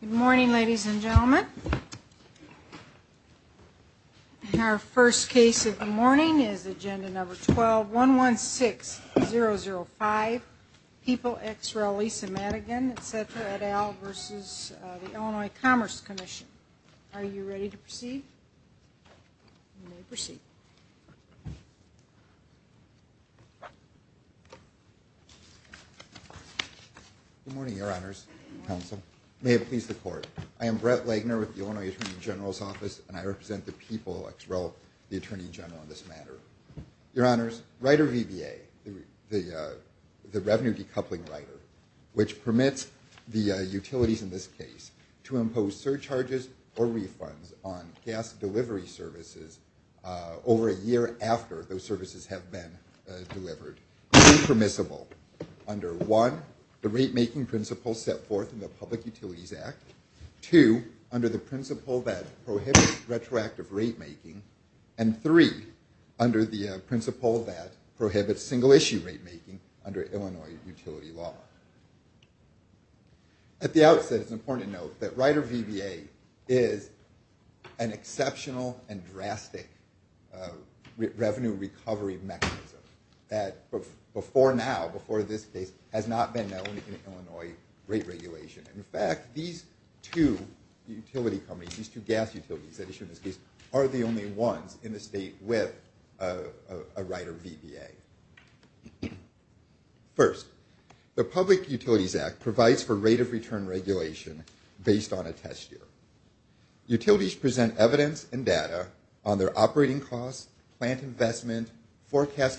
Good morning ladies and gentlemen. Our first case of the morning is agenda number 12-116-005. People ex rel Lisa Madigan et cetera et al. versus the Illinois Commerce Commission. Are you ready to proceed? Good morning your honors, counsel. May it please the court. I am Brett Lagner with the Illinois Attorney General's office and I represent the people ex rel. the Attorney General in this matter. Your honors, Rider VBA, the revenue decoupling rider, which permits the utilities in this case to impose surcharges or refunds on gas delivery services over a year after those services have been delivered. Unpermissible under one, the rate making principle set forth in the Public Utilities Act. Two, under the principle that prohibits retroactive rate making. And three, under the principle that prohibits single issue rate making under Illinois utility law. At the outset, it's important to note that Rider VBA is an exceptional and drastic revenue recovery mechanism that before now, before this case, has not been known in Illinois rate regulation. In fact, these two utility companies, these two gas First, the Public Utilities Act provides for rate of return regulation based on a test year. Utilities present evidence and data on their operating costs, plant investment, forecast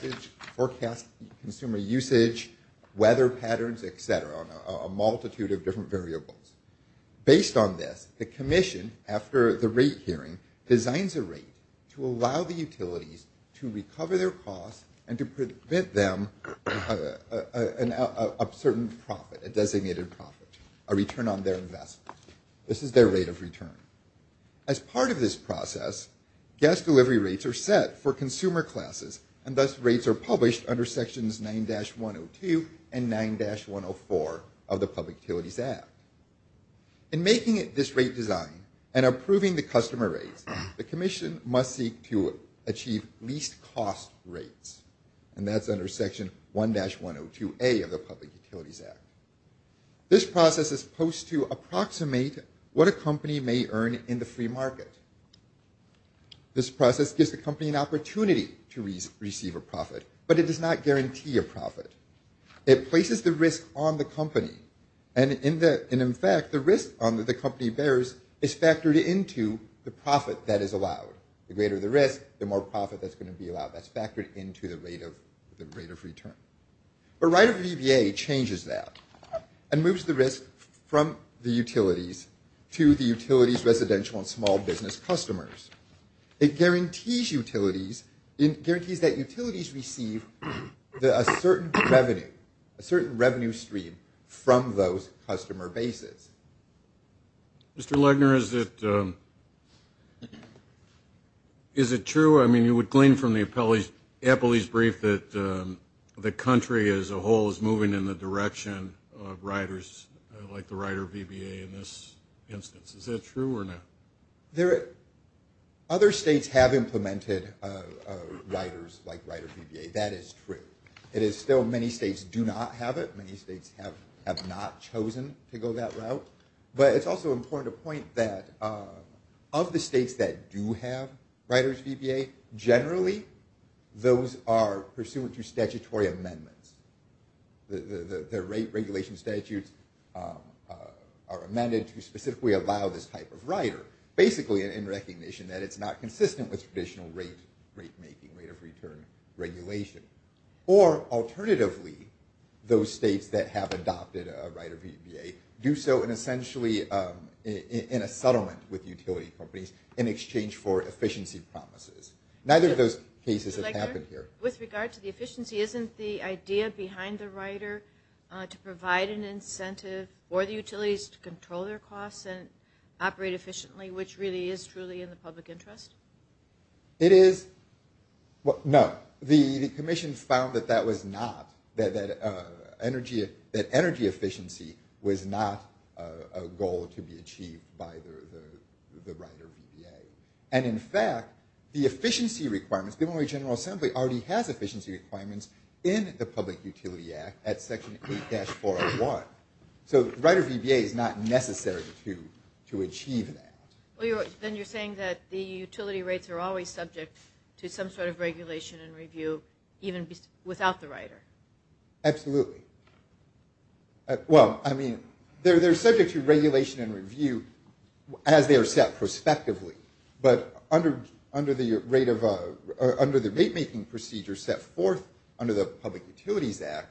consumer usage, weather patterns, et cetera, a multitude of different variables. Based on this, the commission, after the rate hearing, designs a rate to allow the utilities to recover their costs and to prevent them a certain profit, a designated profit, a return on their investment. This is their rate of return. As part of this process, gas delivery rates are set for consumer classes and thus rates are published under sections 9-102 and 9-104 of the Public Utilities Act. In making this rate design and approving the customer rates, the commission must seek to achieve least cost rates and that's under section 1-102A of the Public Utilities Act. This process is supposed to approximate what a company may earn in the free market. This process gives the company an opportunity to receive a profit, but it does not guarantee a profit. It places the risk on the company and in fact, the risk on that the company bears is factored into the profit that is allowed. The greater the risk, the more profit that's going to be allowed. That's factored into the rate of return. But right of VBA changes that and moves the risk from the utilities to the utilities residential and small business customers. It guarantees utilities, it guarantees that utilities receive a certain revenue, a certain revenue stream from those customer bases. Mr. Legner, is it true? I mean, you would claim from the appellee's brief that the country as a whole is moving in the direction of riders like the rider VBA in this instance. Is that true or not? Other states have implemented riders like rider VBA. That is true. It is still many states do not have it. Many states have not chosen to go that route. But it's also important to point that of the states that do have riders VBA, generally those are pursuant to statutory amendments. The rate regulation statutes are amended to specifically allow this type of rider. Basically in recognition that it's not consistent with traditional rate making, rate of return regulation. Or alternatively, those states that have adopted a rider VBA do so in essentially in a settlement with utility companies in exchange for efficiency promises. Neither of those cases have happened here. With regard to the efficiency, isn't the idea behind the rider to provide an incentive for the utilities to control their costs and operate efficiently, which really is truly in the public interest? It is. No. The commission found that that was not, that energy efficiency was not a goal to be achieved by the rider VBA. And in fact, the efficiency requirements, the General Assembly already has efficiency requirements in the Public Utility Act at section 8-401. So rider VBA is not necessary to achieve that. Then you're saying that the utility rates are always subject to some sort of regulation and review, even without the rider. Absolutely. Well, I mean, they're subject to regulation and review as they are set prospectively. But under the rate making procedure set forth under the Public Utilities Act,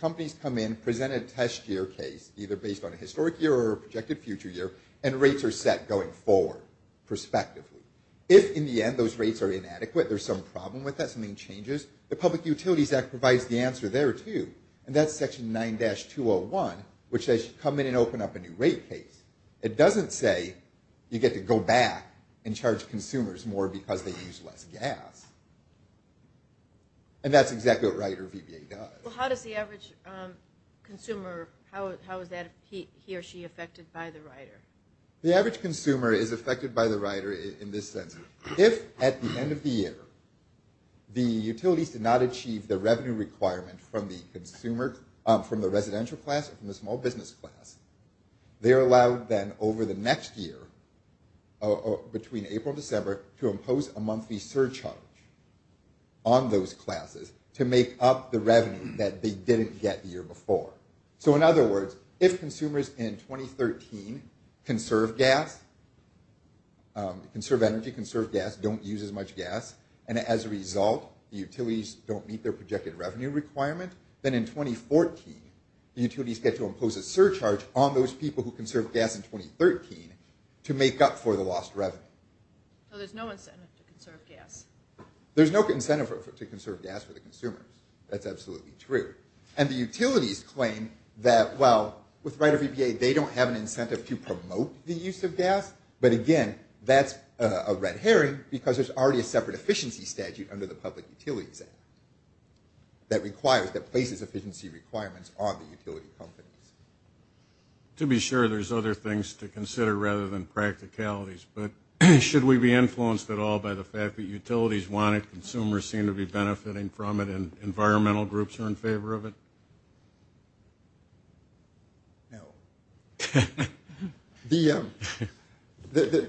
companies come in, present a test year case, either based on a historic year or a projected future year, and rates are set going forward, prospectively. If in the end those rates are inadequate, there's some problem with that, something changes, the Public Utilities Act provides the answer there, too. And that's section 9-201, which says you come in and open up a new rate case. It doesn't say you get to go back and charge consumers more because they use less gas. And that's exactly what rider VBA does. Well, how does the average consumer, how is that he or she affected by the rider? The average consumer is affected by the rider in this sense. If at the end of the year, the utilities did not achieve the revenue requirement from the consumer, from the residential class or from the small business class, they're allowed then over the next year, between April and December, to impose a monthly surcharge on those classes to make up the revenue that they didn't get the year before. So in other words, if consumers in 2013 conserve gas, conserve energy, conserve gas, don't use as much gas, and as a result, the utilities don't meet their projected revenue requirement, then in 2014, the utilities get to impose a surcharge on those people who conserve gas in 2013 to make up for the lost revenue. So there's no incentive to conserve gas? There's no incentive to conserve gas for the consumers. That's absolutely true. And the utilities claim that, well, with rider VBA, they don't have an incentive to promote the use of gas. But again, that's a red herring because there's already a separate efficiency statute under the Public Utilities Act that requires, that places efficiency requirements on the utility companies. To be sure, there's other things to consider rather than practicalities, but should we be influenced at all by the fact that utilities want it, consumers seem to be benefiting from it, and environmental groups are in favor of it? No. The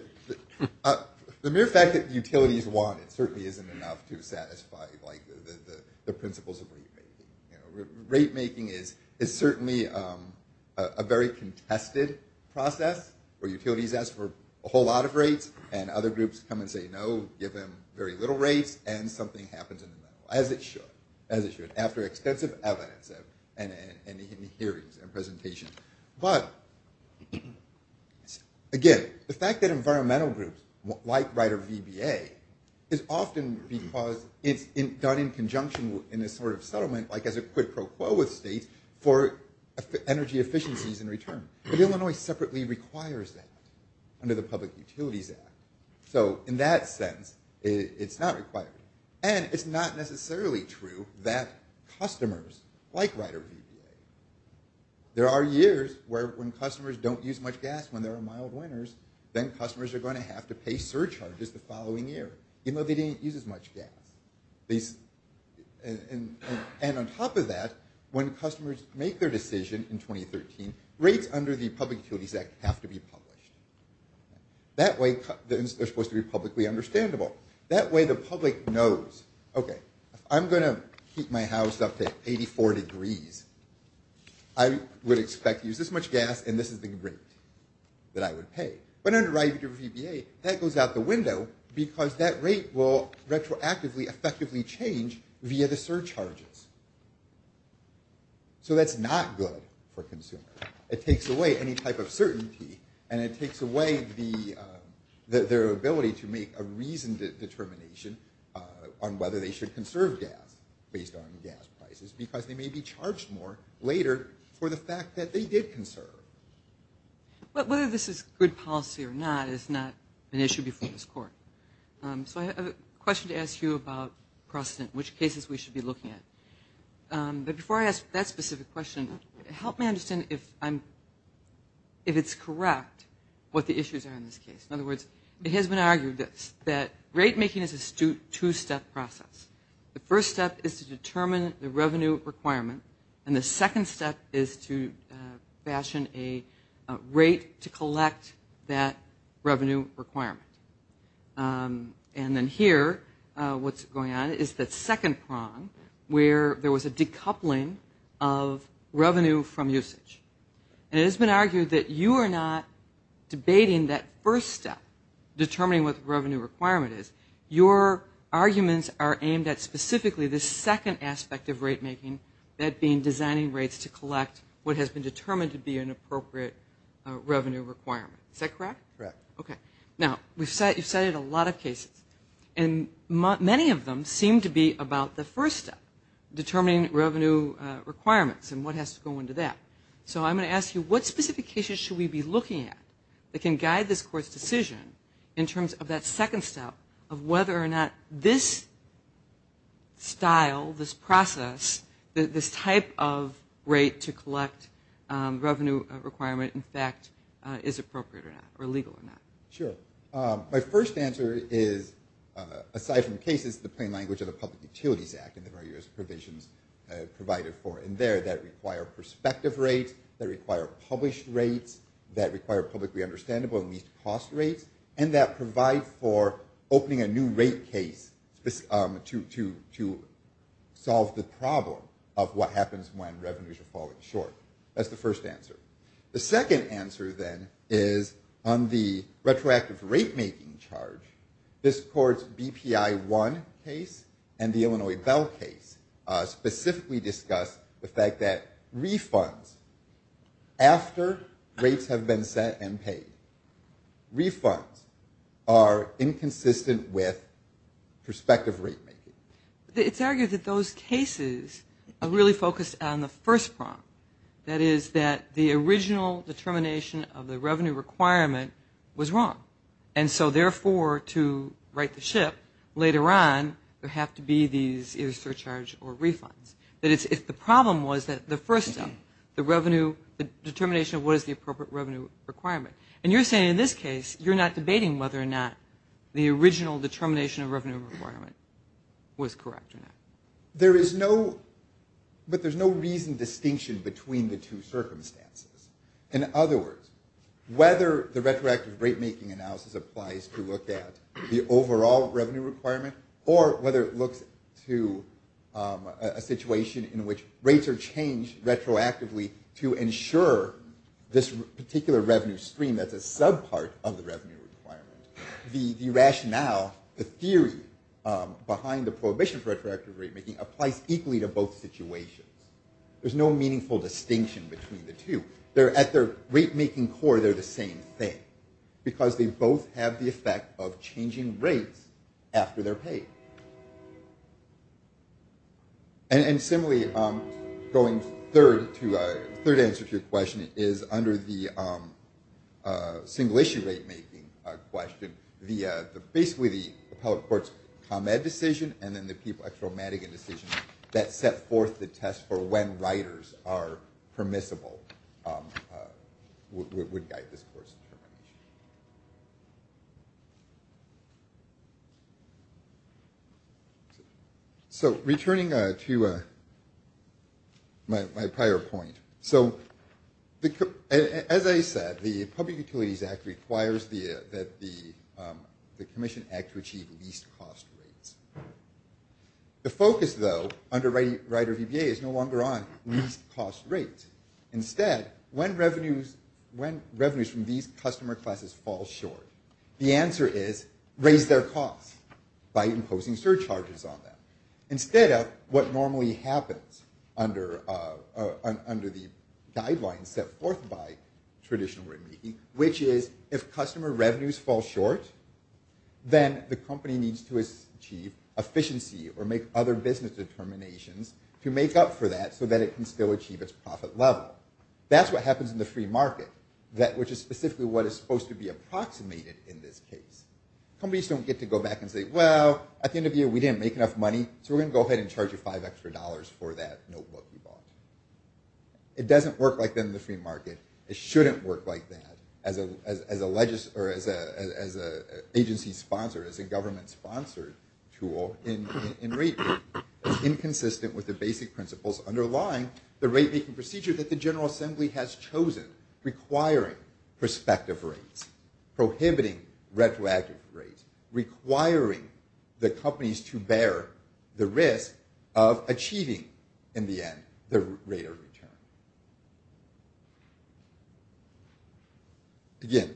mere fact that utilities want it certainly isn't enough to satisfy, like, the principles of rate making. Rate making is certainly a very contested process where utilities ask for a whole lot of rates, and other groups come and say no, give them very little rates, and something happens in the middle, as it should, as it should, after extensive evidence and hearings and presentations. But again, the fact that environmental groups, like rider VBA, is often because it's done in conjunction in a sort of settlement, like as a quid pro quo with states, for energy efficiencies in return. But Illinois separately requires that under the Public Utilities Act, so in that sense, it's not required. And it's not necessarily true that customers like rider VBA. There are years when customers don't use much gas when there are mild winters, then customers are going to have to pay surcharges the following year, even though they didn't use as much gas. And on top of that, when customers make their decision in 2013, rates under the Public Utilities Act have to be published. That way, they're supposed to be publicly understandable. That way the public knows, okay, I'm going to keep my house up to 84 degrees. I would expect to use this much gas, and this is the rate that I would pay. But under rider VBA, that goes out the window, because that rate will retroactively, effectively change via the surcharges. So that's not good for consumers. It takes away any type of certainty, and it takes away their ability to make a reasoned determination on whether they should conserve gas based on gas prices, because they may be charged more later for the fact that they did conserve. But whether this is good policy or not is not an issue before this Court. So I have a question to ask you about precedent, which cases we should be looking at. But before I ask that specific question, help me understand if I'm, if it's correct what the issues are in this case. In other words, it has been argued that rate making is a two-step process. The first step is to determine the revenue requirement, and the second step is to fashion a rate to collect that revenue requirement. And then here, what's going on is that second prong where there was a decoupling of revenue from usage. And it has been argued that you are not debating that first step, determining what the revenue requirement is. Your arguments are aimed at specifically the second aspect of rate making, that being designing rates to collect what has been determined to be an appropriate revenue requirement. Is that correct? Correct. Okay. Now, you've cited a lot of cases, and many of them seem to be about the first step, determining revenue requirements and what has to go into that. So I'm going to ask you, what specifications should we be looking at that can guide this Court's decision in terms of that second step, of whether or not this style, this process, this type of rate to collect revenue requirement, in fact, is appropriate or not, or legal or not? Sure. My first answer is, aside from cases, the plain language of the Public Utilities Act and the various provisions provided for in there that require prospective rates, that require published rates, that require publicly understandable and least-cost rates, and that provide for opening a new rate case to solve the problem of what happens when revenues are falling short. That's the first answer. The second answer, then, is on the retroactive rate-making charge. This Court's BPI-1 case and the Illinois Bell case specifically discuss the fact that refunds, after rates have been set and paid, refunds, after rates have been set, are inconsistent with prospective rate-making. It's argued that those cases are really focused on the first problem. That is, that the original determination of the revenue requirement was wrong. And so, therefore, to right the ship, later on, there have to be these either surcharge or refunds. That is, if the problem was that the first step, the revenue, the determination of what is the appropriate revenue requirement. And you're saying, in this case, you're not debating whether or not the original determination of revenue requirement was correct or not. There is no, but there's no reasoned distinction between the two circumstances. In other words, whether the retroactive rate-making analysis applies to look at the overall revenue requirement or whether it looks to a situation in which rates are changed retroactively to ensure this particular revenue stream that's a sub-part of the revenue requirement, the rationale, the theory behind the prohibition for retroactive rate-making applies equally to both situations. There's no meaningful distinction between the two. At their rate-making core, they're the same thing because they both have the effect of changing rates after they're paid. And, similarly, going third, the third answer to your question is under the single-issue rate-making question, basically the appellate court's ComEd decision and then the Petro-Mannigan decision that set forth the test for when riders are permissible would guide this court's decision. So returning to my prior point, so as I said, the Public Utilities Act requires that the Commission act to achieve least-cost rates. The focus, though, under Rider-VBA is no longer on least-cost rates. Instead, when revenues from these customer classes fall short, the Commission is imposing surcharges on them. Instead of what normally happens under the guidelines set forth by traditional rate-making, which is if customer revenues fall short, then the company needs to achieve efficiency or make other business determinations to make up for that so that it can still achieve its profit level. That's what happens in the free market, which is specifically what is supposed to be approximated in this case. Companies don't get to go back and say, well, at the end of the year, we didn't make enough money, so we're going to go ahead and charge you five extra dollars for that notebook you bought. It doesn't work like that in the free market. It shouldn't work like that as an agency sponsor, as a government-sponsored tool in rate-making. It's inconsistent with the basic principles underlying the rate-making procedure that the General Assembly has chosen, requiring prospective rates, prohibiting retroactive rates, requiring the companies to bear the risk of achieving, in the end, the rate of return. Again,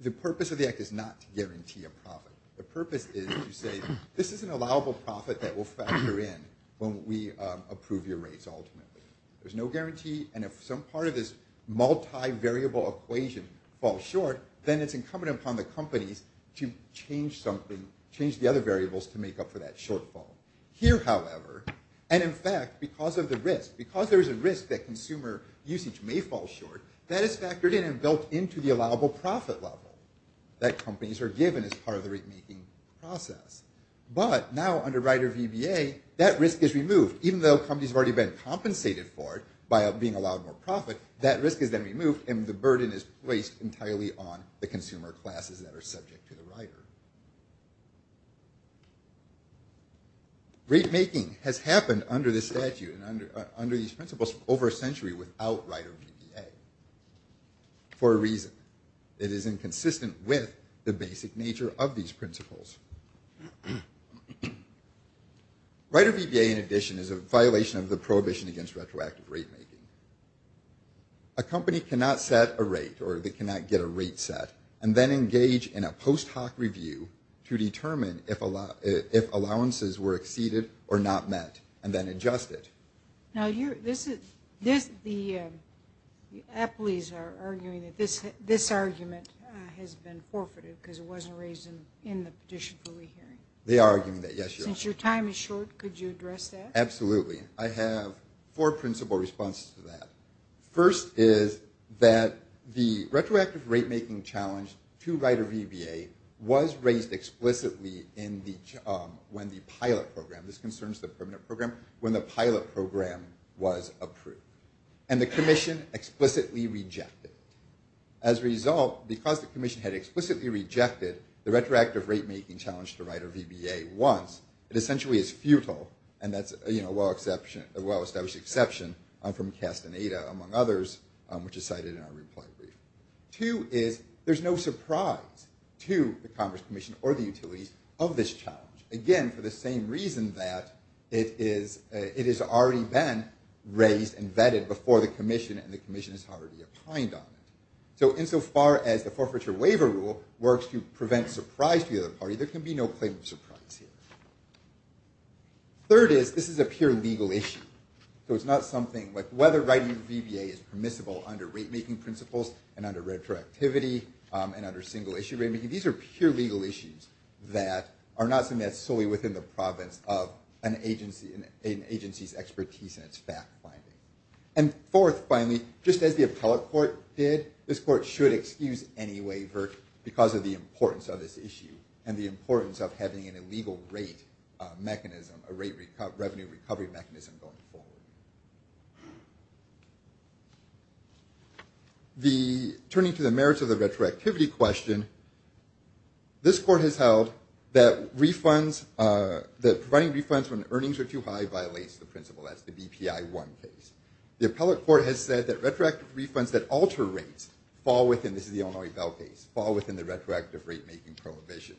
the purpose of the Act is not to guarantee a profit. The purpose is to say, this is an allowable profit that will factor in when we approve your variable equation falls short, then it's incumbent upon the companies to change the other variables to make up for that shortfall. Here, however, and in fact, because of the risk, because there is a risk that consumer usage may fall short, that is factored in and built into the allowable profit level that companies are given as part of the rate-making process. But now under Rider VBA, that risk is removed, even though companies have already been compensated for it by being allowed more profit, that risk is then removed and the burden is placed entirely on the consumer classes that are subject to the Rider. Rate-making has happened under this statute and under these principles for over a century without Rider VBA for a reason. It is inconsistent with the basic nature of these principles. Rider VBA, in addition, is a violation of the A company cannot set a rate or they cannot get a rate set and then engage in a post hoc review to determine if allowances were exceeded or not met and then adjust it. Now, this is, the employees are arguing that this argument has been forfeited because it wasn't raised in the petition for re-hearing. They are arguing that, yes. Since your time is short, could you address that? Absolutely. I have four principal responses to that. First is that the retroactive rate-making challenge to Rider VBA was raised explicitly in the, when the pilot program, this concerns the permanent program, when the pilot program was approved. And the commission explicitly rejected. As a result, because the commission had explicitly rejected the retroactive rate-making challenge to Rider VBA once, it essentially is futile. And that's a well-established exception from Castaneda, among others, which is cited in our reply brief. Two is, there's no surprise to the Commerce Commission or the utilities of this challenge. Again, for the same reason that it is, it has already been raised and vetted before the commission and the commission has already opined on it. So insofar as the forfeiture waiver rule works to prevent surprise to the other party, there can be no claim of surprise here. Third is, this is a pure legal issue. So it's not something like whether Rider VBA is permissible under rate-making principles and under retroactivity and under single-issue rate-making. These are pure legal issues that are not something that's solely within the province of an agency's expertise and its fact-finding. And fourth, finally, just as the appellate court did, this court should excuse any waiver because of the importance of this issue and the importance of having an illegal rate mechanism, a revenue recovery mechanism going forward. Turning to the merits of the retroactivity question, this court has held that providing refunds when earnings are too high violates the principle. That's the BPI 1 case. The appellate court has said that retroactive refunds that alter rates fall within, this is the Illinois Bell case, fall within the retroactive rate-making prohibition.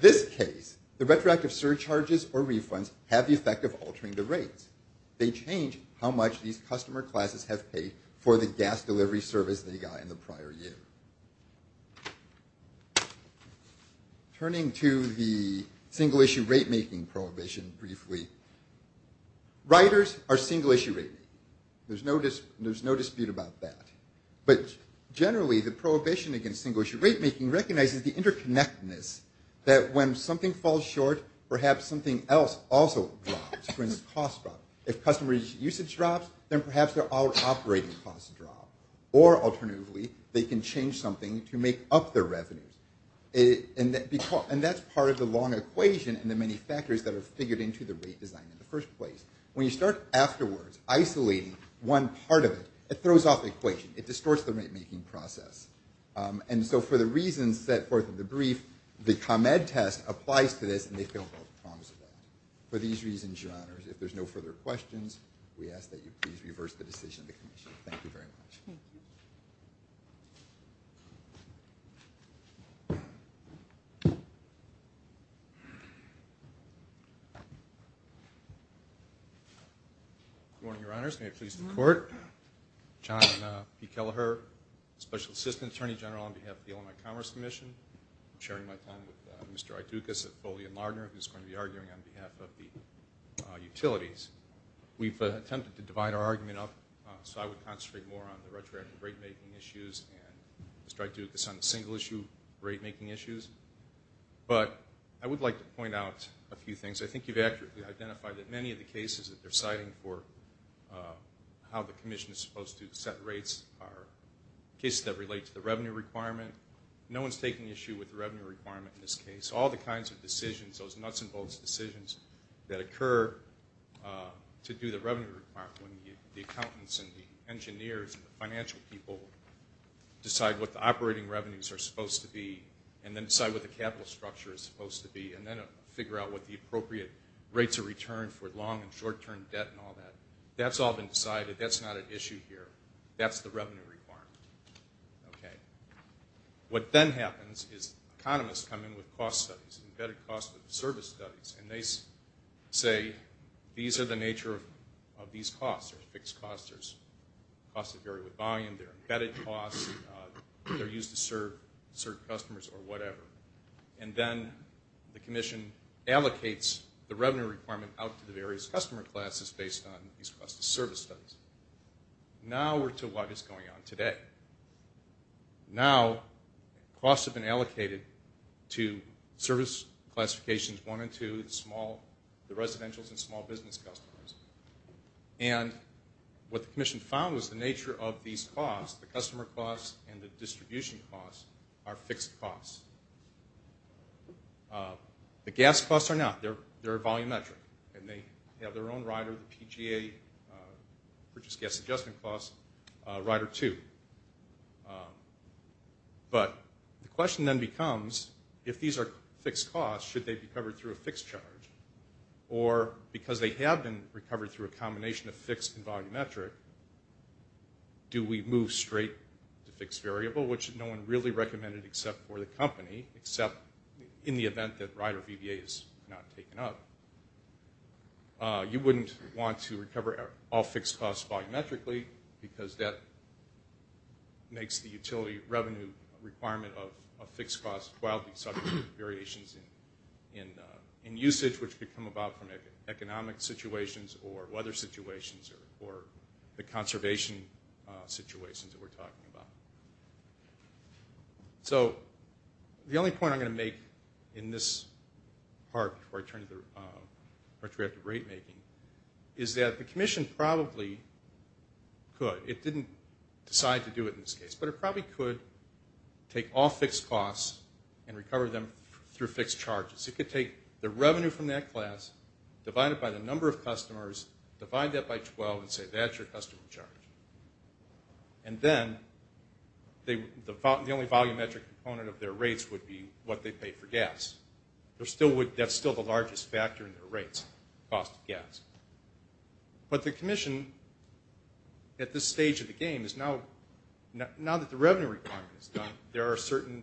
This case, the retroactive surcharges or refunds have the effect of altering the rates. They change how much these customer classes have paid for the gas delivery service they got in the prior year. Turning to the single-issue rate-making prohibition briefly, riders are single-issue rated. There's no dispute about that. But generally, the prohibition against single-issue rate-making recognizes the interconnectedness that when something falls short, perhaps something else also drops. For instance, costs drop. If customer usage drops, then perhaps their operating costs drop. Or alternatively, they can change something to make up their revenues. And that's part of the long equation and the many factors that are figured into the rate design in the first place. When you start afterwards, isolating one part of it, it throws off the equation. It distorts the rate-making process. And so for the reasons set forth in the brief, the ComEd test applies to this, and they fail both prongs of that. For these reasons, Your Honors, if there's no further questions, we ask that you please reverse the decision of the Commission. Thank you very much. Good morning, Your Honors. May it please the Court. John P. Kelleher, Special Assistant Attorney General on behalf of the Illinois Commerce Commission. I'm sharing my time with Mr. Idoukas of Foley and Lardner, who's going to be arguing on behalf of the utilities. We've attempted to divide our argument up so I would concentrate more on the retroactive rate-making issues and Mr. Idoukas on the single-issue rate-making issues. But I would like to point out a few things. I think you've accurately identified that many of the cases that they're citing for how the Commission is supposed to set rates are cases that relate to the revenue requirement. No one's taking issue with the revenue requirement in this case. All the kinds of decisions, those nuts and bolts decisions that occur to do the revenue requirement when the accountants and the engineers and the financial people decide what the operating revenues are supposed to be and then decide what the capital structure is supposed to be and then figure out what the appropriate rates of return for long- and short-term debt and all that. That's all been decided. That's not an issue here. That's the revenue requirement. Okay. What then happens is economists come in with cost studies, embedded cost of service studies, and they say these are the nature of these costs. There's fixed costs. There's costs that vary with volume. There are embedded costs. They're used to serve customers or whatever. And then the Commission allocates the revenue requirement out to the various customer classes based on these cost of service studies. Now we're to what is going on today. Now costs have been allocated to service classifications one and two, the small, the residentials and small business customers. And what the Commission found was the nature of these costs, the customer costs and the distribution costs, are fixed costs. The gas costs are not. They're volumetric. And they have their own rider, the PGA, purchase gas adjustment costs, rider two. But the question then becomes if these are fixed costs, should they be covered through a fixed charge? Or because they have been recovered through a combination of fixed and volumetric, do we move straight to fixed variable, which no one really recommended except for the company, except in the event that rider VBA is not taken up, you wouldn't want to recover all fixed costs volumetrically because that makes the utility revenue requirement of a fixed cost. Well, these are variations in usage, which become about economic situations or weather situations or the conservation situations that we're talking about. So the only point I'm going to make in this part before I turn to the retroactive rate making is that the Commission probably could. It didn't decide to do it in this case. But it probably could take all fixed costs and recover them through fixed charges. It could take the revenue from that class, divide it by the number of customers, divide that by 12 and say that's your customer charge. And then the only volumetric component of their rates would be what they pay for gas. That's still the largest factor in their rates, cost of gas. But the Commission at this stage of the game is now that the revenue requirement is done, there are certain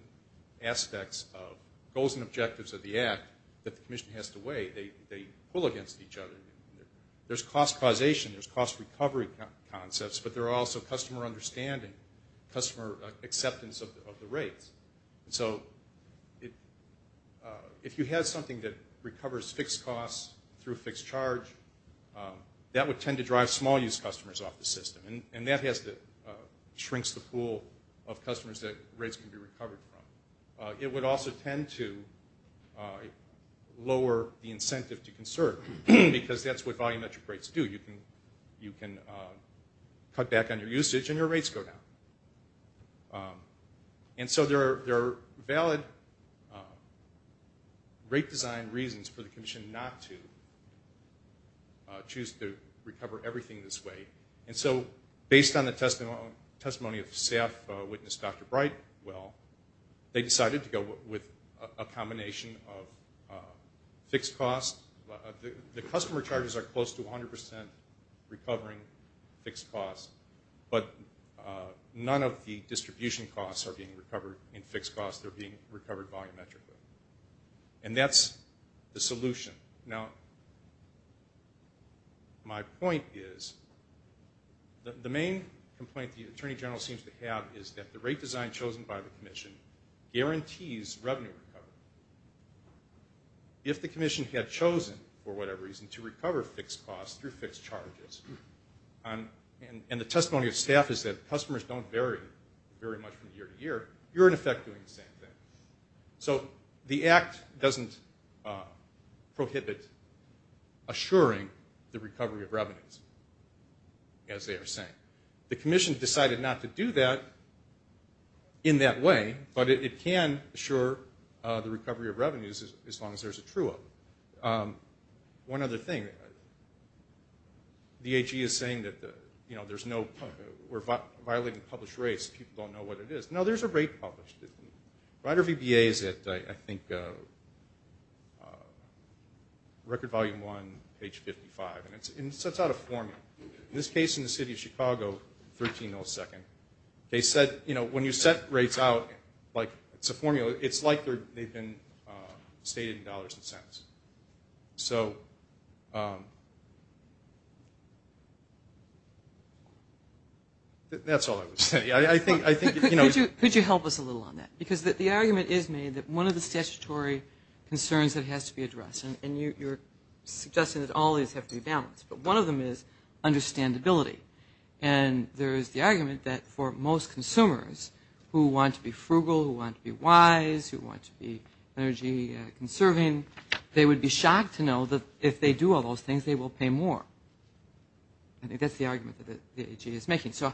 aspects of goals and objectives of the Act that the Commission has to weigh. They pull against each other. There's cost causation. There's cost recovery concepts. But there are also customer understanding, customer acceptance of the rates. So if you had something that recovers fixed costs through fixed charge, that would tend to drive small-use customers off the system. And that shrinks the pool of customers that rates can be recovered from. It would also tend to lower the incentive to conserve because that's what volumetric rates do. You can cut back on your usage and your rates go down. And so there are valid rate design reasons for the Commission not to choose to recover everything this way. And so based on the testimony of staff witness, Dr. Brightwell, they decided to go with a combination of fixed costs. The customer charges are close to 100% recovering fixed costs, but none of the distribution costs are being recovered in fixed costs. They're being recovered volumetrically. And that's the solution. Now, my point is the main complaint the Attorney General seems to have is that the rate design chosen by the Commission guarantees revenue recovery. If the Commission had chosen, for whatever reason, to recover fixed costs through fixed charges, and the testimony of staff is that customers don't vary very much from year to year, you're, in effect, doing the same thing. So the Act doesn't prohibit assuring the recovery of revenues, as they are saying. The Commission decided not to do that in that way, but it can assure the recovery of revenues as long as there's a true of them. One other thing, the AG is saying that, you know, there's no we're violating published rates. People don't know what it is. No, there's a rate published. Rider VBA is at, I think, record volume one, page 55. And it sets out a formula. In this case, in the city of Chicago, 13 millisecond. They said, you know, when you set rates out, like, it's a formula. It's like they've been stated in dollars and cents. So that's all I would say. Could you help us a little on that? Because the argument is made that one of the statutory concerns that has to be addressed, and you're suggesting that all these have to be balanced, but one of them is understandability. And there is the argument that for most consumers who want to be frugal, who want to be wise, who want to be energy conserving, they would be shocked to know that if they do all those things, they will pay more. I think that's the argument that the AG is making. So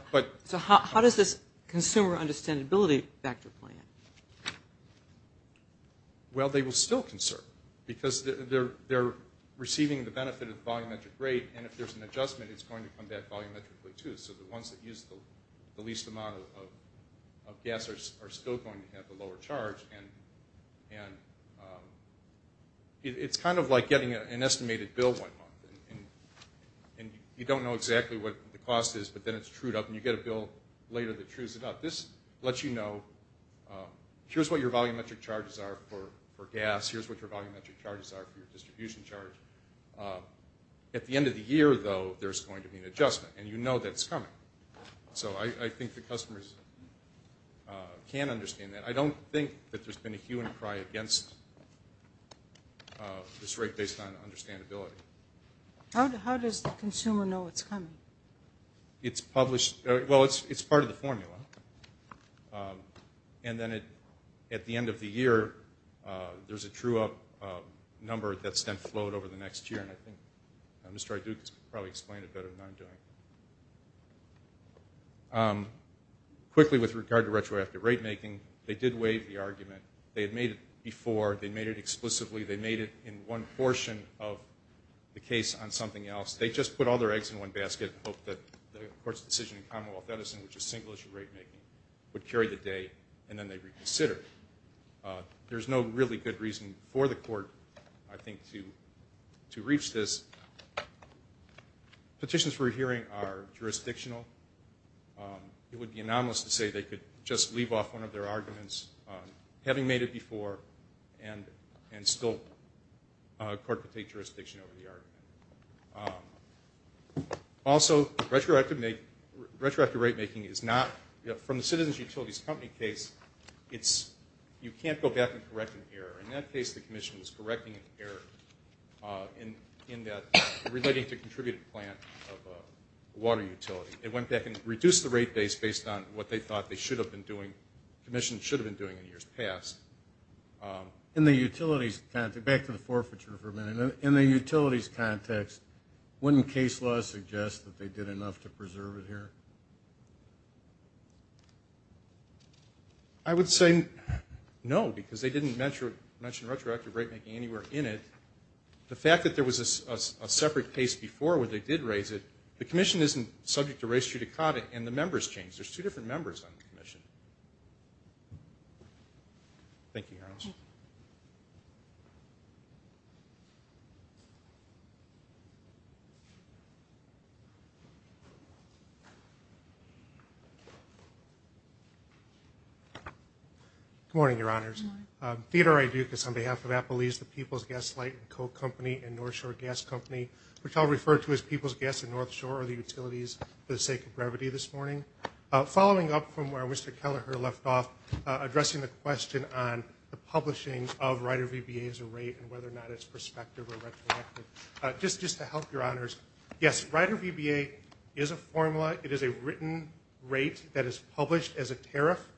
how does this consumer understandability factor play in? Well, they will still conserve because they're receiving the benefit of the volumetric rate, and if there's an adjustment, it's going to come back volumetrically, too. So the ones that use the least amount of gas are still going to have the lower charge. And it's kind of like getting an estimated bill one month. And you don't know exactly what the cost is, but then it's trued up, and you get a bill later that trues it up. This lets you know, here's what your volumetric charges are for gas. Here's what your volumetric charges are for your distribution charge. At the end of the year, though, there's going to be an adjustment, and you know that it's coming. So I think the customers can understand that. I don't think that there's been a hue and cry against this rate based on understandability. How does the consumer know it's coming? It's published. Well, it's part of the formula. And then at the end of the year, there's a trued up number that's then flowed over the next year, and I think Mr. Iduk probably explained it better than I'm doing. Quickly, with regard to retroactive rate making, they did waive the argument. They had made it before. They made it explicitly. They made it in one portion of the case on something else. They just put all their eggs in one basket and hoped that the court's decision in Commonwealth Edison, which is single-issue rate making, would carry the day, and then they reconsidered it. There's no really good reason for the court, I think, to reach this. Petitions we're hearing are jurisdictional. It would be anomalous to say they could just leave off one of their arguments, having made it before, and still court could take jurisdiction over the argument. Also, retroactive rate making is not, from the Citizens Utilities Company case, In that case, the commission was correcting an error in that relating to a contributed plant of a water utility. It went back and reduced the rate base based on what they thought they should have been doing, commissions should have been doing in years past. In the utilities context, back to the forfeiture for a minute, in the utilities context, wouldn't case law suggest that they did enough to preserve it here? I would say no, because they didn't mention retroactive rate making anywhere in it. The fact that there was a separate case before where they did raise it, the commission isn't subject to res judicata, and the members change. There's two different members on the commission. Thank you, Your Honor. Thank you. Good morning, Your Honors. Theodore A. Dukas on behalf of Applebee's, the People's Gas Light and Co. Company, and North Shore Gas Company, which I'll refer to as People's Gas and North Shore, are the utilities for the sake of brevity this morning. Following up from where Mr. Kelleher left off, addressing the question on the publishing of Rider VBA as a rate and whether or not it's prospective or retroactive. Just to help, Your Honors, yes, Rider VBA is a formula. It is a written rate that is published as a tariff,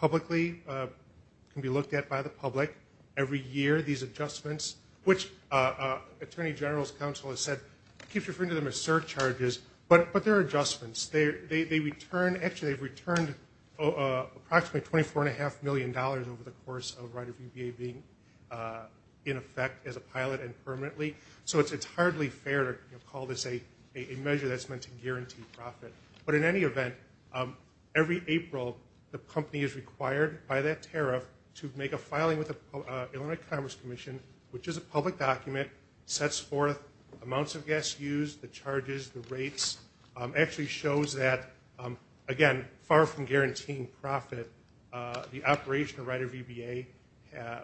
publicly, can be looked at by the public. Every year, these adjustments, which Attorney General's Counsel has said, keeps referring to them as surcharges, but they're adjustments. Actually, they've returned approximately $24.5 million over the course of Rider VBA being in effect as a pilot and permanently. So it's entirely fair to call this a measure that's meant to guarantee profit. But in any event, every April, the company is required by that tariff to make a filing with the Illinois Commerce Commission, which is a public document, sets forth amounts of gas used, the charges, the rates, actually shows that, again, far from guaranteeing profit, the operation of Rider VBA,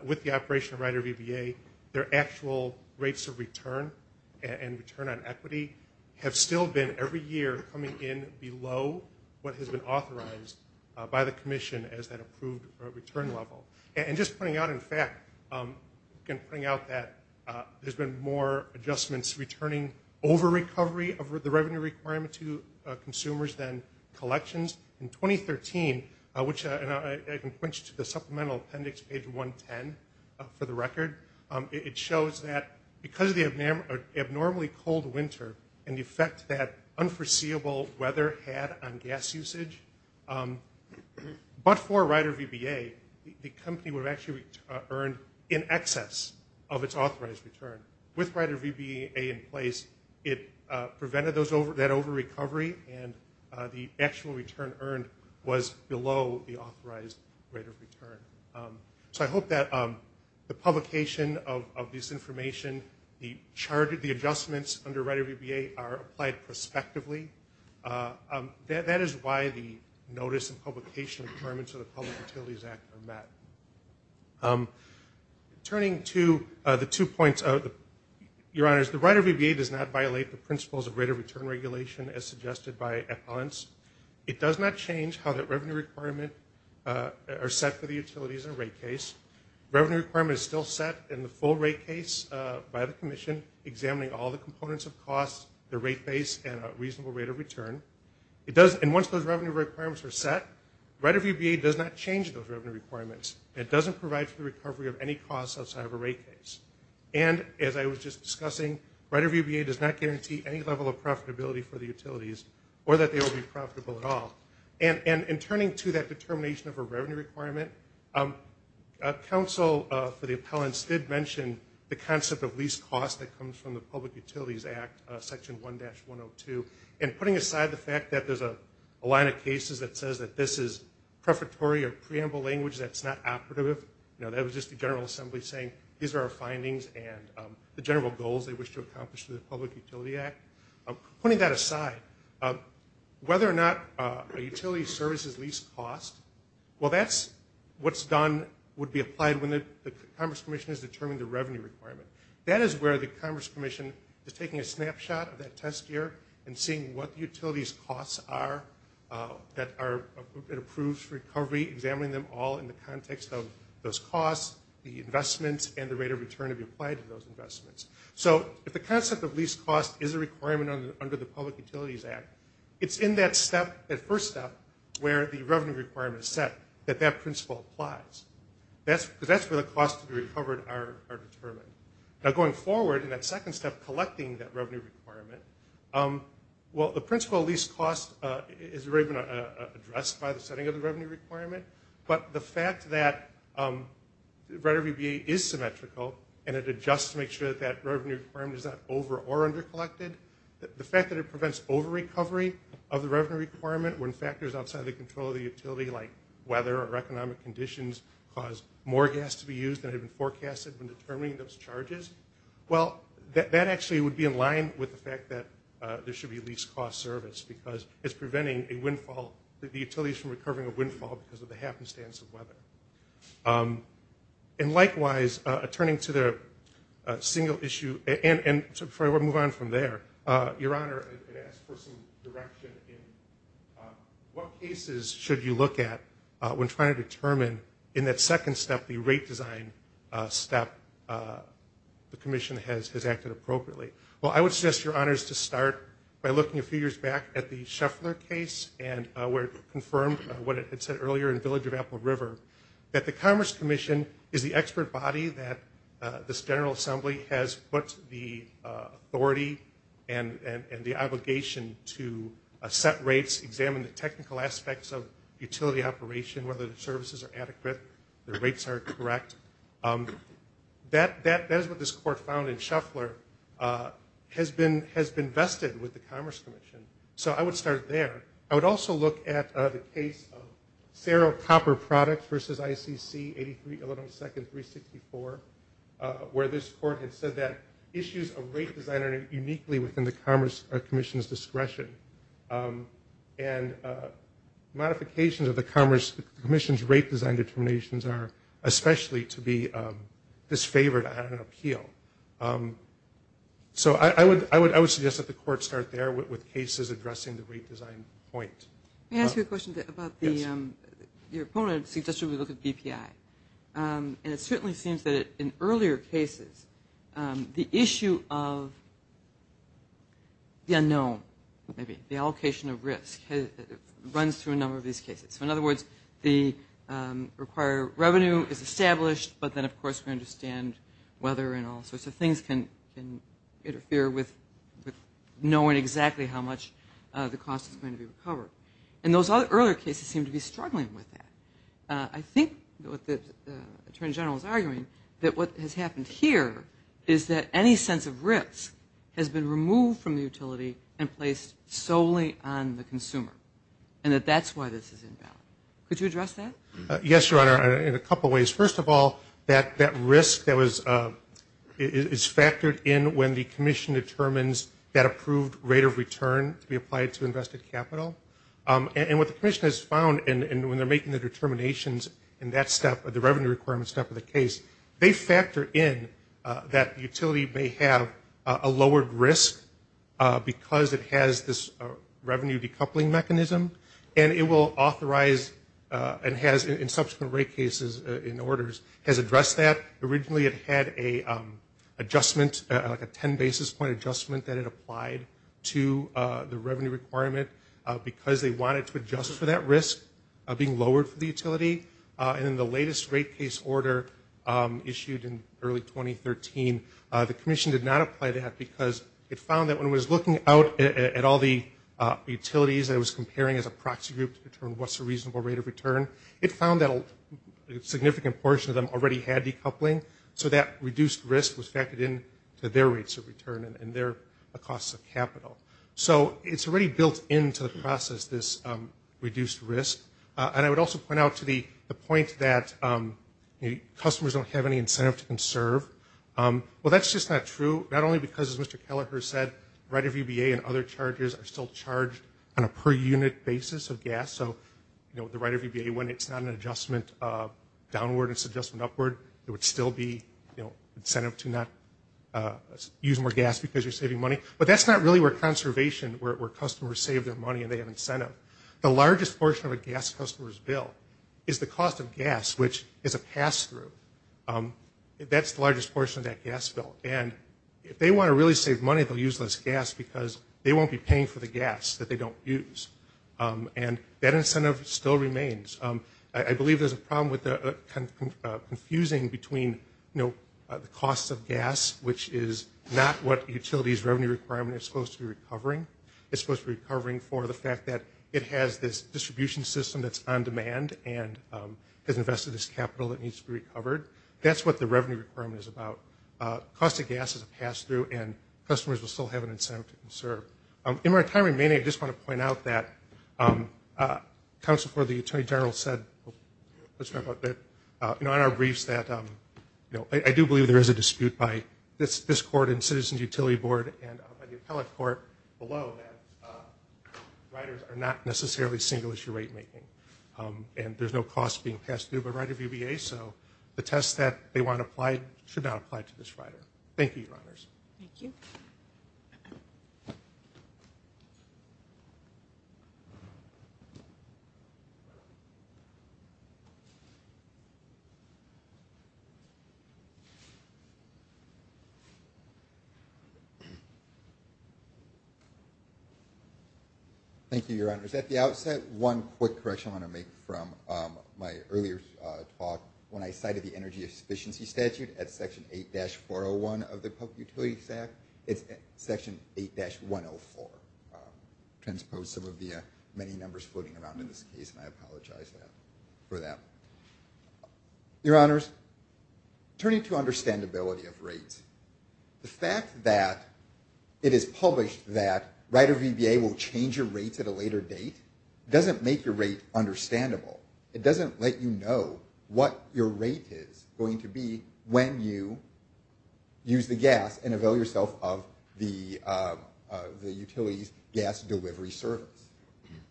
with the operation of Rider VBA, their actual rates of return and return on equity have still been, every year, coming in below what has been authorized by the commission as that approved return level. And just pointing out, in fact, I'm going to point out that there's been more adjustments returning over recovery of the revenue requirement to consumers than collections. In 2013, which I can point you to the Supplemental Appendix, page 110, for the record, it shows that because of the abnormally cold winter and the effect that unforeseeable weather had on gas usage, but for Rider VBA, the company would have actually earned in excess of its authorized return. With Rider VBA in place, it prevented that over-recovery, and the actual return earned was below the authorized rate of return. So I hope that the publication of this information, the adjustments under Rider VBA are applied prospectively. That is why the notice and publication requirements of the Public Utilities Act are met. Turning to the two points, Your Honors, the Rider VBA does not violate the principles of rate of return regulation as suggested by Epon's. It does not change how that revenue requirement are set for the utilities in a rate case. Revenue requirement is still set in the full rate case by the commission, examining all the components of costs, the rate base, and a reasonable rate of return. And once those revenue requirements are set, Rider VBA does not change those revenue requirements. It doesn't provide for the recovery of any costs outside of a rate case. And as I was just discussing, Rider VBA does not guarantee any level of profitability for the utilities or that they will be profitable at all. And in turning to that determination of a revenue requirement, counsel for the appellants did mention the concept of lease cost that comes from the Public Utilities Act, Section 1-102, and putting aside the fact that there's a line of cases that says that this is prefatory or preamble language that's not operative. You know, that was just the General Assembly saying these are our findings and the general goals they wish to accomplish through the Public Utility Act. Putting that aside, whether or not a utility services lease cost, well, that's what's done would be applied when the Commerce Commission has determined the revenue requirement. That is where the Commerce Commission is taking a snapshot of that test year and seeing what the utility's costs are that are approved for recovery, examining them all in the context of those costs, the investments, and the rate of return to be applied to those investments. So if the concept of lease cost is a requirement under the Public Utilities Act, it's in that first step where the revenue requirement is set that that principle applies, because that's where the costs to be recovered are determined. Now, going forward in that second step, collecting that revenue requirement, well, the principle of lease cost has already been addressed by the setting of the revenue requirement, but the fact that RIDER VBA is symmetrical and it adjusts to make sure that that revenue requirement is not over or under collected, the fact that it prevents over-recovery of the revenue requirement when factors outside of the control of the utility, like weather or economic conditions, cause more gas to be used than had been forecasted when determining those charges, well, that actually would be in line with the fact that there should be a lease cost service because it's preventing the utilities from recovering a windfall because of the happenstance of weather. And likewise, turning to the single issue, and before I move on from there, Your Honor, I'd ask for some direction in what cases should you look at when trying to determine, in that second step, the rate design step, the commission has acted appropriately. Well, I would suggest, Your Honors, to start by looking a few years back at the Scheffler case and where it confirmed what it had said earlier in Village of Apple River, that the Commerce Commission is the expert body that this General Assembly has put the authority and the obligation to set rates, examine the technical aspects of utility operation, whether the services are adequate, the rates are correct. That is what this Court found in Scheffler has been vested with the Commerce Commission. So I would start there. I would also look at the case of Cerro Copper Products versus ICC 83 Illinois 2nd 364, where this Court had said that issues of rate design are uniquely within the Commerce Commission's discretion. And modifications of the Commerce Commission's rate design determinations are especially to be disfavored on an appeal. So I would suggest that the Court start there with cases addressing the rate design point. Let me ask you a question about your opponent suggested we look at BPI. And it certainly seems that in earlier cases, the issue of the unknown, maybe, the allocation of risk runs through a number of these cases. So in other words, the required revenue is established, but then, of course, we understand whether and all sorts of things can interfere with knowing exactly how much the cost is going to be recovered. And those earlier cases seem to be struggling with that. I think what the Attorney General is arguing that what has happened here is that any sense of risk has been removed from the utility and placed solely on the consumer, and that that's why this is inbound. Could you address that? Yes, Your Honor, in a couple ways. First of all, that risk is factored in when the Commission determines that approved rate of return to be applied to invested capital. And what the Commission has found, and when they're making the determinations in that step, the revenue requirement step of the case, they factor in that utility may have a lowered risk because it has this revenue decoupling mechanism, and it will authorize and has, in subsequent rate cases and orders, has addressed that. Originally it had a adjustment, like a 10 basis point adjustment that it applied to the revenue requirement because they wanted to adjust for that risk of being lowered for the utility. And in the latest rate case order issued in early 2013, the Commission did not apply that because it found that when it was looking out at all the utilities that it was comparing as a proxy group to determine what's a reasonable rate of return, it found that a significant portion of them already had decoupling, so that reduced risk was factored in to their rates of return and their costs of capital. So it's already built into the process, this reduced risk. And I would also point out to the point that customers don't have any incentive to conserve. Well, that's just not true, not only because, as Mr. Kelleher said, Rider VBA and other charges are still charged on a per unit basis of gas, so the Rider VBA, when it's not an adjustment downward, it's an adjustment upward, there would still be incentive to not use more gas because you're saving money. But that's not really where conservation, where customers save their money and they have incentive. The largest portion of a gas customer's bill is the cost of gas, which is a pass-through. That's the largest portion of that gas bill. And if they want to really save money, they'll use less gas because they won't be paying for the gas that they don't use. And that incentive still remains. I believe there's a problem with confusing between the costs of gas, which is not what utilities' revenue requirement is supposed to be recovering. It's supposed to be recovering for the fact that it has this distribution system that's on demand and has invested this capital that needs to be recovered. That's what the revenue requirement is about. Cost of gas is a pass-through, and customers will still have an incentive to conserve. In my time remaining, I just want to point out that counsel for the attorney general said, let's talk about that, you know, in our briefs that, you know, I do believe there is a dispute by this court and Citizens Utility Board and by the appellate court below that riders are not necessarily single-issue rate making. And there's no cost being passed through by Rider VBA, so the test that they want applied should not apply to this rider. Thank you, Your Honors. Thank you. Thank you, Your Honors. At the outset, one quick correction I want to make from my earlier talk, when I cited the energy efficiency statute at Section 8-401 of the Public Utilities Act, it's Section 8-104, transposed some of the many numbers floating around in this case, and I apologize for that. Your Honors, turning to understandability of rates, the fact that it is published that Rider VBA will change your rates at a later date doesn't make your rate understandable. It doesn't let you know what your rate is going to be when you use the gas and avail yourself of the utility's gas delivery service.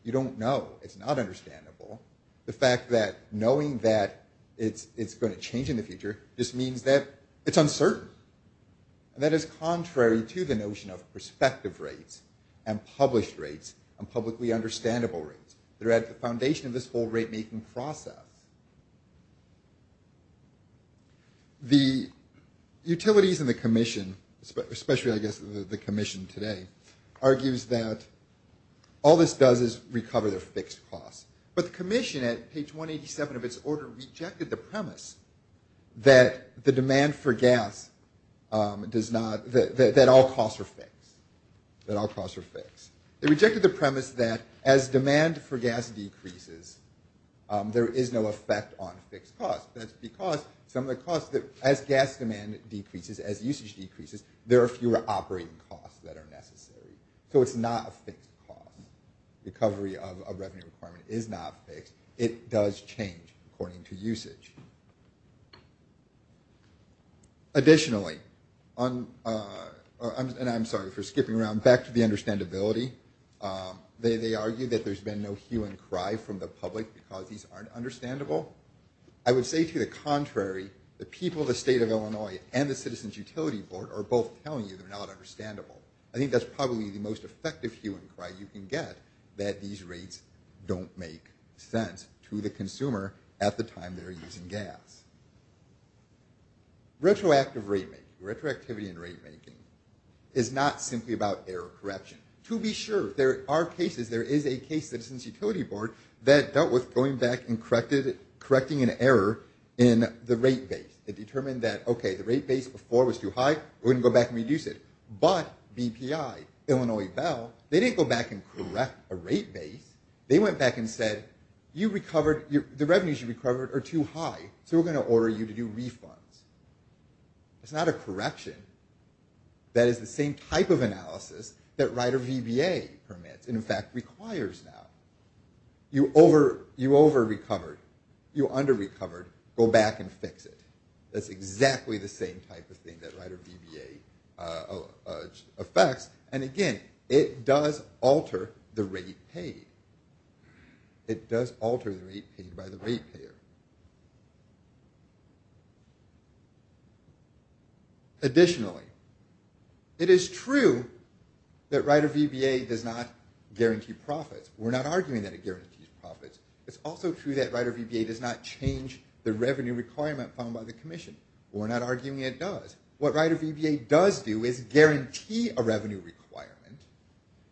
You don't know. It's not understandable. The fact that knowing that it's going to change in the future just means that it's uncertain. And that is contrary to the notion of prospective rates and published rates and publicly understandable rates. They're at the foundation of this whole rate-making process. The utilities and the commission, especially, I guess, the commission today, argues that all this does is recover their fixed costs. But the commission at page 187 of its order rejected the premise that the demand for gas does not, that all costs are fixed, that all costs are fixed. They rejected the premise that as demand for gas decreases, there is no effect on fixed costs. That's because some of the costs, as gas demand decreases, as usage decreases, there are fewer operating costs that are necessary. So it's not a fixed cost. Recovery of a revenue requirement is not fixed. It does change according to usage. Additionally, and I'm sorry for skipping around, back to the understandability, they argue that there's been no hue and cry from the public because these aren't understandable. I would say to the contrary, the people of the State of Illinois and the Citizens Utility Board are both telling you they're not understandable. I think that's probably the most effective hue and cry you can get, that these rates don't make sense to the consumer at the time they're using gas. Retroactive rate making, retroactivity in rate making, is not simply about error correction. To be sure, there are cases, there is a case, the Citizens Utility Board, that dealt with going back and correcting an error in the rate base. It determined that, okay, the rate base before was too high, we're going to go back and reduce it. But BPI, Illinois Bell, they didn't go back and correct a rate base. They went back and said, you recovered, the revenues you recovered are too high, so we're going to order you to do refunds. It's not a correction. That is the same type of analysis that Rider VBA permits and, in fact, requires now. You over-recovered, you under-recovered, go back and fix it. That's exactly the same type of thing that Rider VBA affects. And, again, it does alter the rate paid. It does alter the rate paid by the rate payer. Additionally, it is true that Rider VBA does not guarantee profits. We're not arguing that it guarantees profits. It's also true that Rider VBA does not change the revenue requirement found by the commission. We're not arguing it does. What Rider VBA does do is guarantee a revenue requirement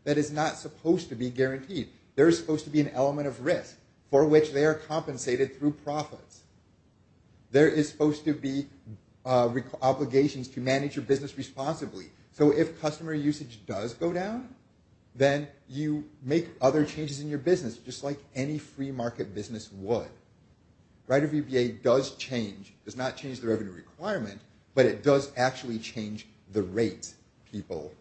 that is not supposed to be guaranteed. There is supposed to be an element of risk for which they are compensated through profits. There is supposed to be obligations to manage your business responsibly. So if customer usage does go down, then you make other changes in your business, just like any free market business would. Rider VBA does change, does not change the revenue requirement, but it does actually change the rate people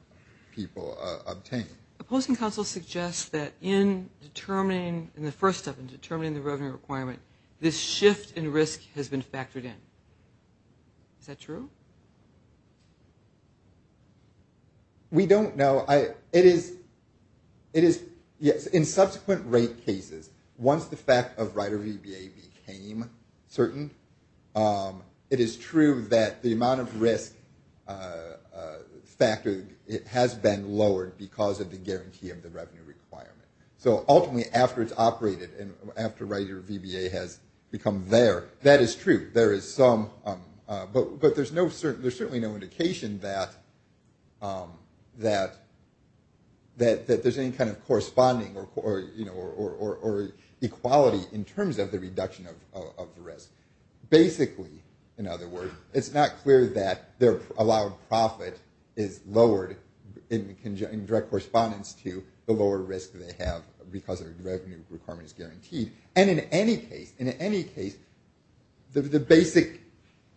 obtain. A posting counsel suggests that in determining, in the first step, in determining the revenue requirement, this shift in risk has been factored in. Is that true? We don't know. It is, yes, in subsequent rate cases, once the fact of Rider VBA became certain, it is true that the amount of risk factored, it has been lowered because of the guarantee of the revenue requirement. So ultimately, after it's operated and after Rider VBA has become there, that is true. There is some, but there's certainly no indication that there's any kind of corresponding or equality in terms of the reduction of the risk. Basically, in other words, it's not clear that their allowed profit is lowered in direct correspondence to the lower risk they have because their revenue requirement is guaranteed. And in any case, the basic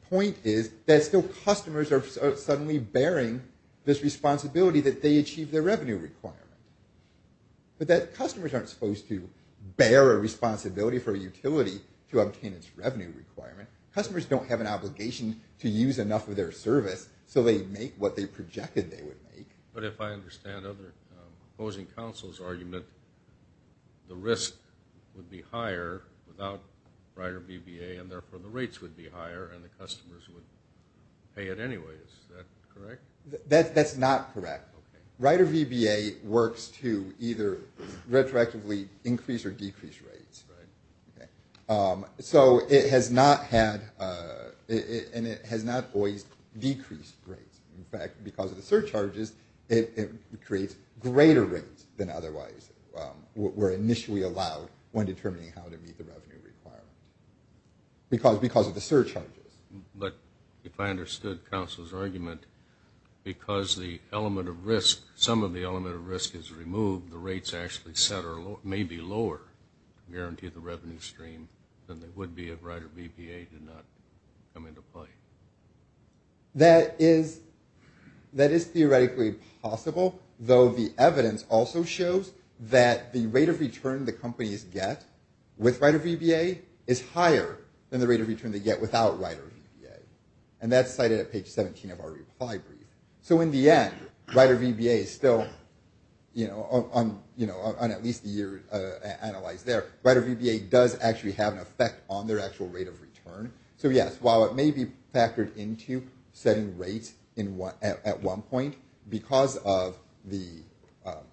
point is that still customers are suddenly bearing this responsibility that they achieve their revenue requirement. But that customers aren't supposed to bear a responsibility for a utility to obtain its revenue requirement. Customers don't have an obligation to use enough of their service so they make what they projected they would make. But if I understand other opposing counsel's argument, the risk would be higher without Rider VBA and therefore the rates would be higher and the customers would pay it anyway. Is that correct? That's not correct. Rider VBA works to either retroactively increase or decrease rates. Right. So it has not had, and it has not always decreased rates. In fact, because of the surcharges, it creates greater rates than otherwise were initially allowed when determining how to meet the revenue requirement because of the surcharges. But if I understood counsel's argument, because the element of risk, some of the element of risk is removed, the rates actually may be lower to guarantee the revenue stream than they would be if Rider VBA did not come into play. That is theoretically possible, though the evidence also shows that the rate of return the companies get with Rider VBA is higher than the rate of return they get without Rider VBA. And that's cited at page 17 of our reply brief. So in the end, Rider VBA still, you know, on at least the year analyzed there, Rider VBA does actually have an effect on their actual rate of return. So yes, while it may be factored into setting rates at one point, because of the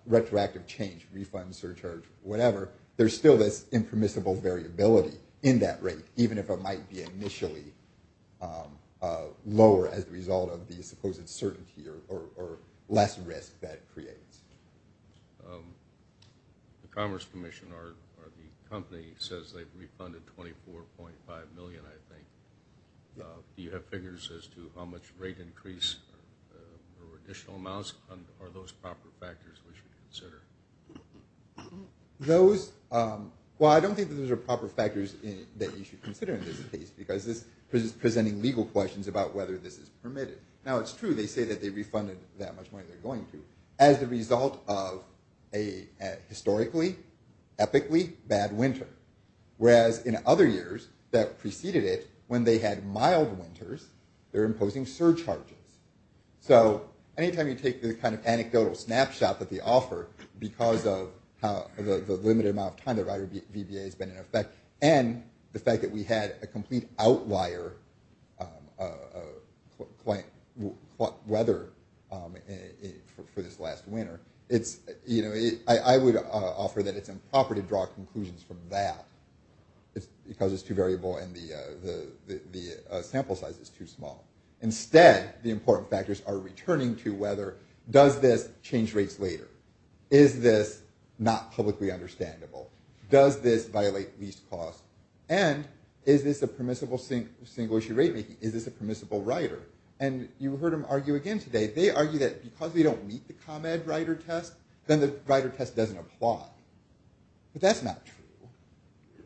retroactive change, refund, surcharge, whatever, there's still this impermissible variability in that rate, even if it might be initially lower as a result of the supposed certainty or less risk that it creates. The Commerce Commission or the company says they've refunded 24.5 million, I think. Do you have figures as to how much rate increase or additional amounts? Are those proper factors we should consider? Those, well, I don't think those are proper factors that you should consider in this case, because this is presenting legal questions about whether this is permitted. Now, it's true, they say that they refunded that much money they're going to. As a result of a historically, epically bad winter. Whereas in other years that preceded it, when they had mild winters, they're imposing surcharges. So anytime you take the kind of anecdotal snapshot that they offer, because of how the limited amount of time that Rider VBA has been in effect, and the fact that we had a complete outlier weather for this last winter, I would offer that it's improper to draw conclusions from that, because it's too variable and the sample size is too small. Instead, the important factors are returning to whether, does this change rates later? Is this not publicly understandable? Does this violate lease costs? And is this a permissible single-issue rate making? Is this a permissible Rider? And you heard them argue again today. They argue that because we don't meet the ComEd Rider test, then the Rider test doesn't apply. But that's not true.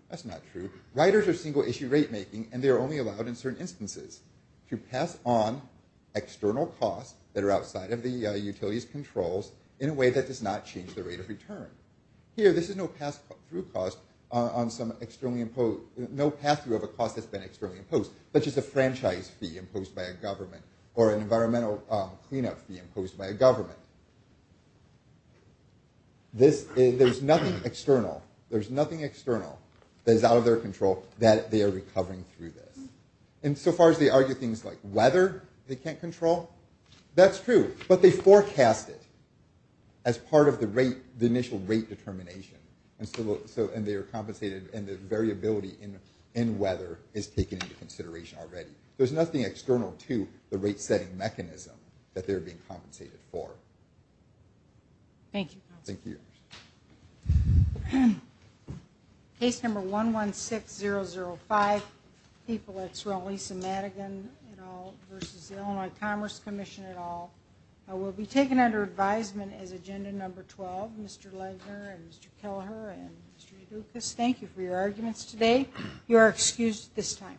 That's not true. Riders are single-issue rate making, and they're only allowed in certain instances to pass on external costs that are outside of the utility's controls in a way that does not change the rate of return. Here, this is no pass-through cost on some externally imposed, no pass-through of a cost that's been externally imposed, such as a franchise fee imposed by a government, or an environmental cleanup fee imposed by a government. There's nothing external, there's nothing external that is out of their control that they are recovering through this. And so far as they argue things like weather they can't control, that's true. But they forecast it as part of the initial rate determination, and they are compensated, and the variability in weather is taken into consideration already. There's nothing external to the rate-setting mechanism that they're being compensated for. Thank you. Thank you. Thank you. Case number 116005, people at Sir Elisa Madigan et al. versus the Illinois Commerce Commission et al. will be taken under advisement as agenda number 12. Mr. Legner and Mr. Kelleher and Mr. Dukas, thank you for your arguments today. You are excused at this time.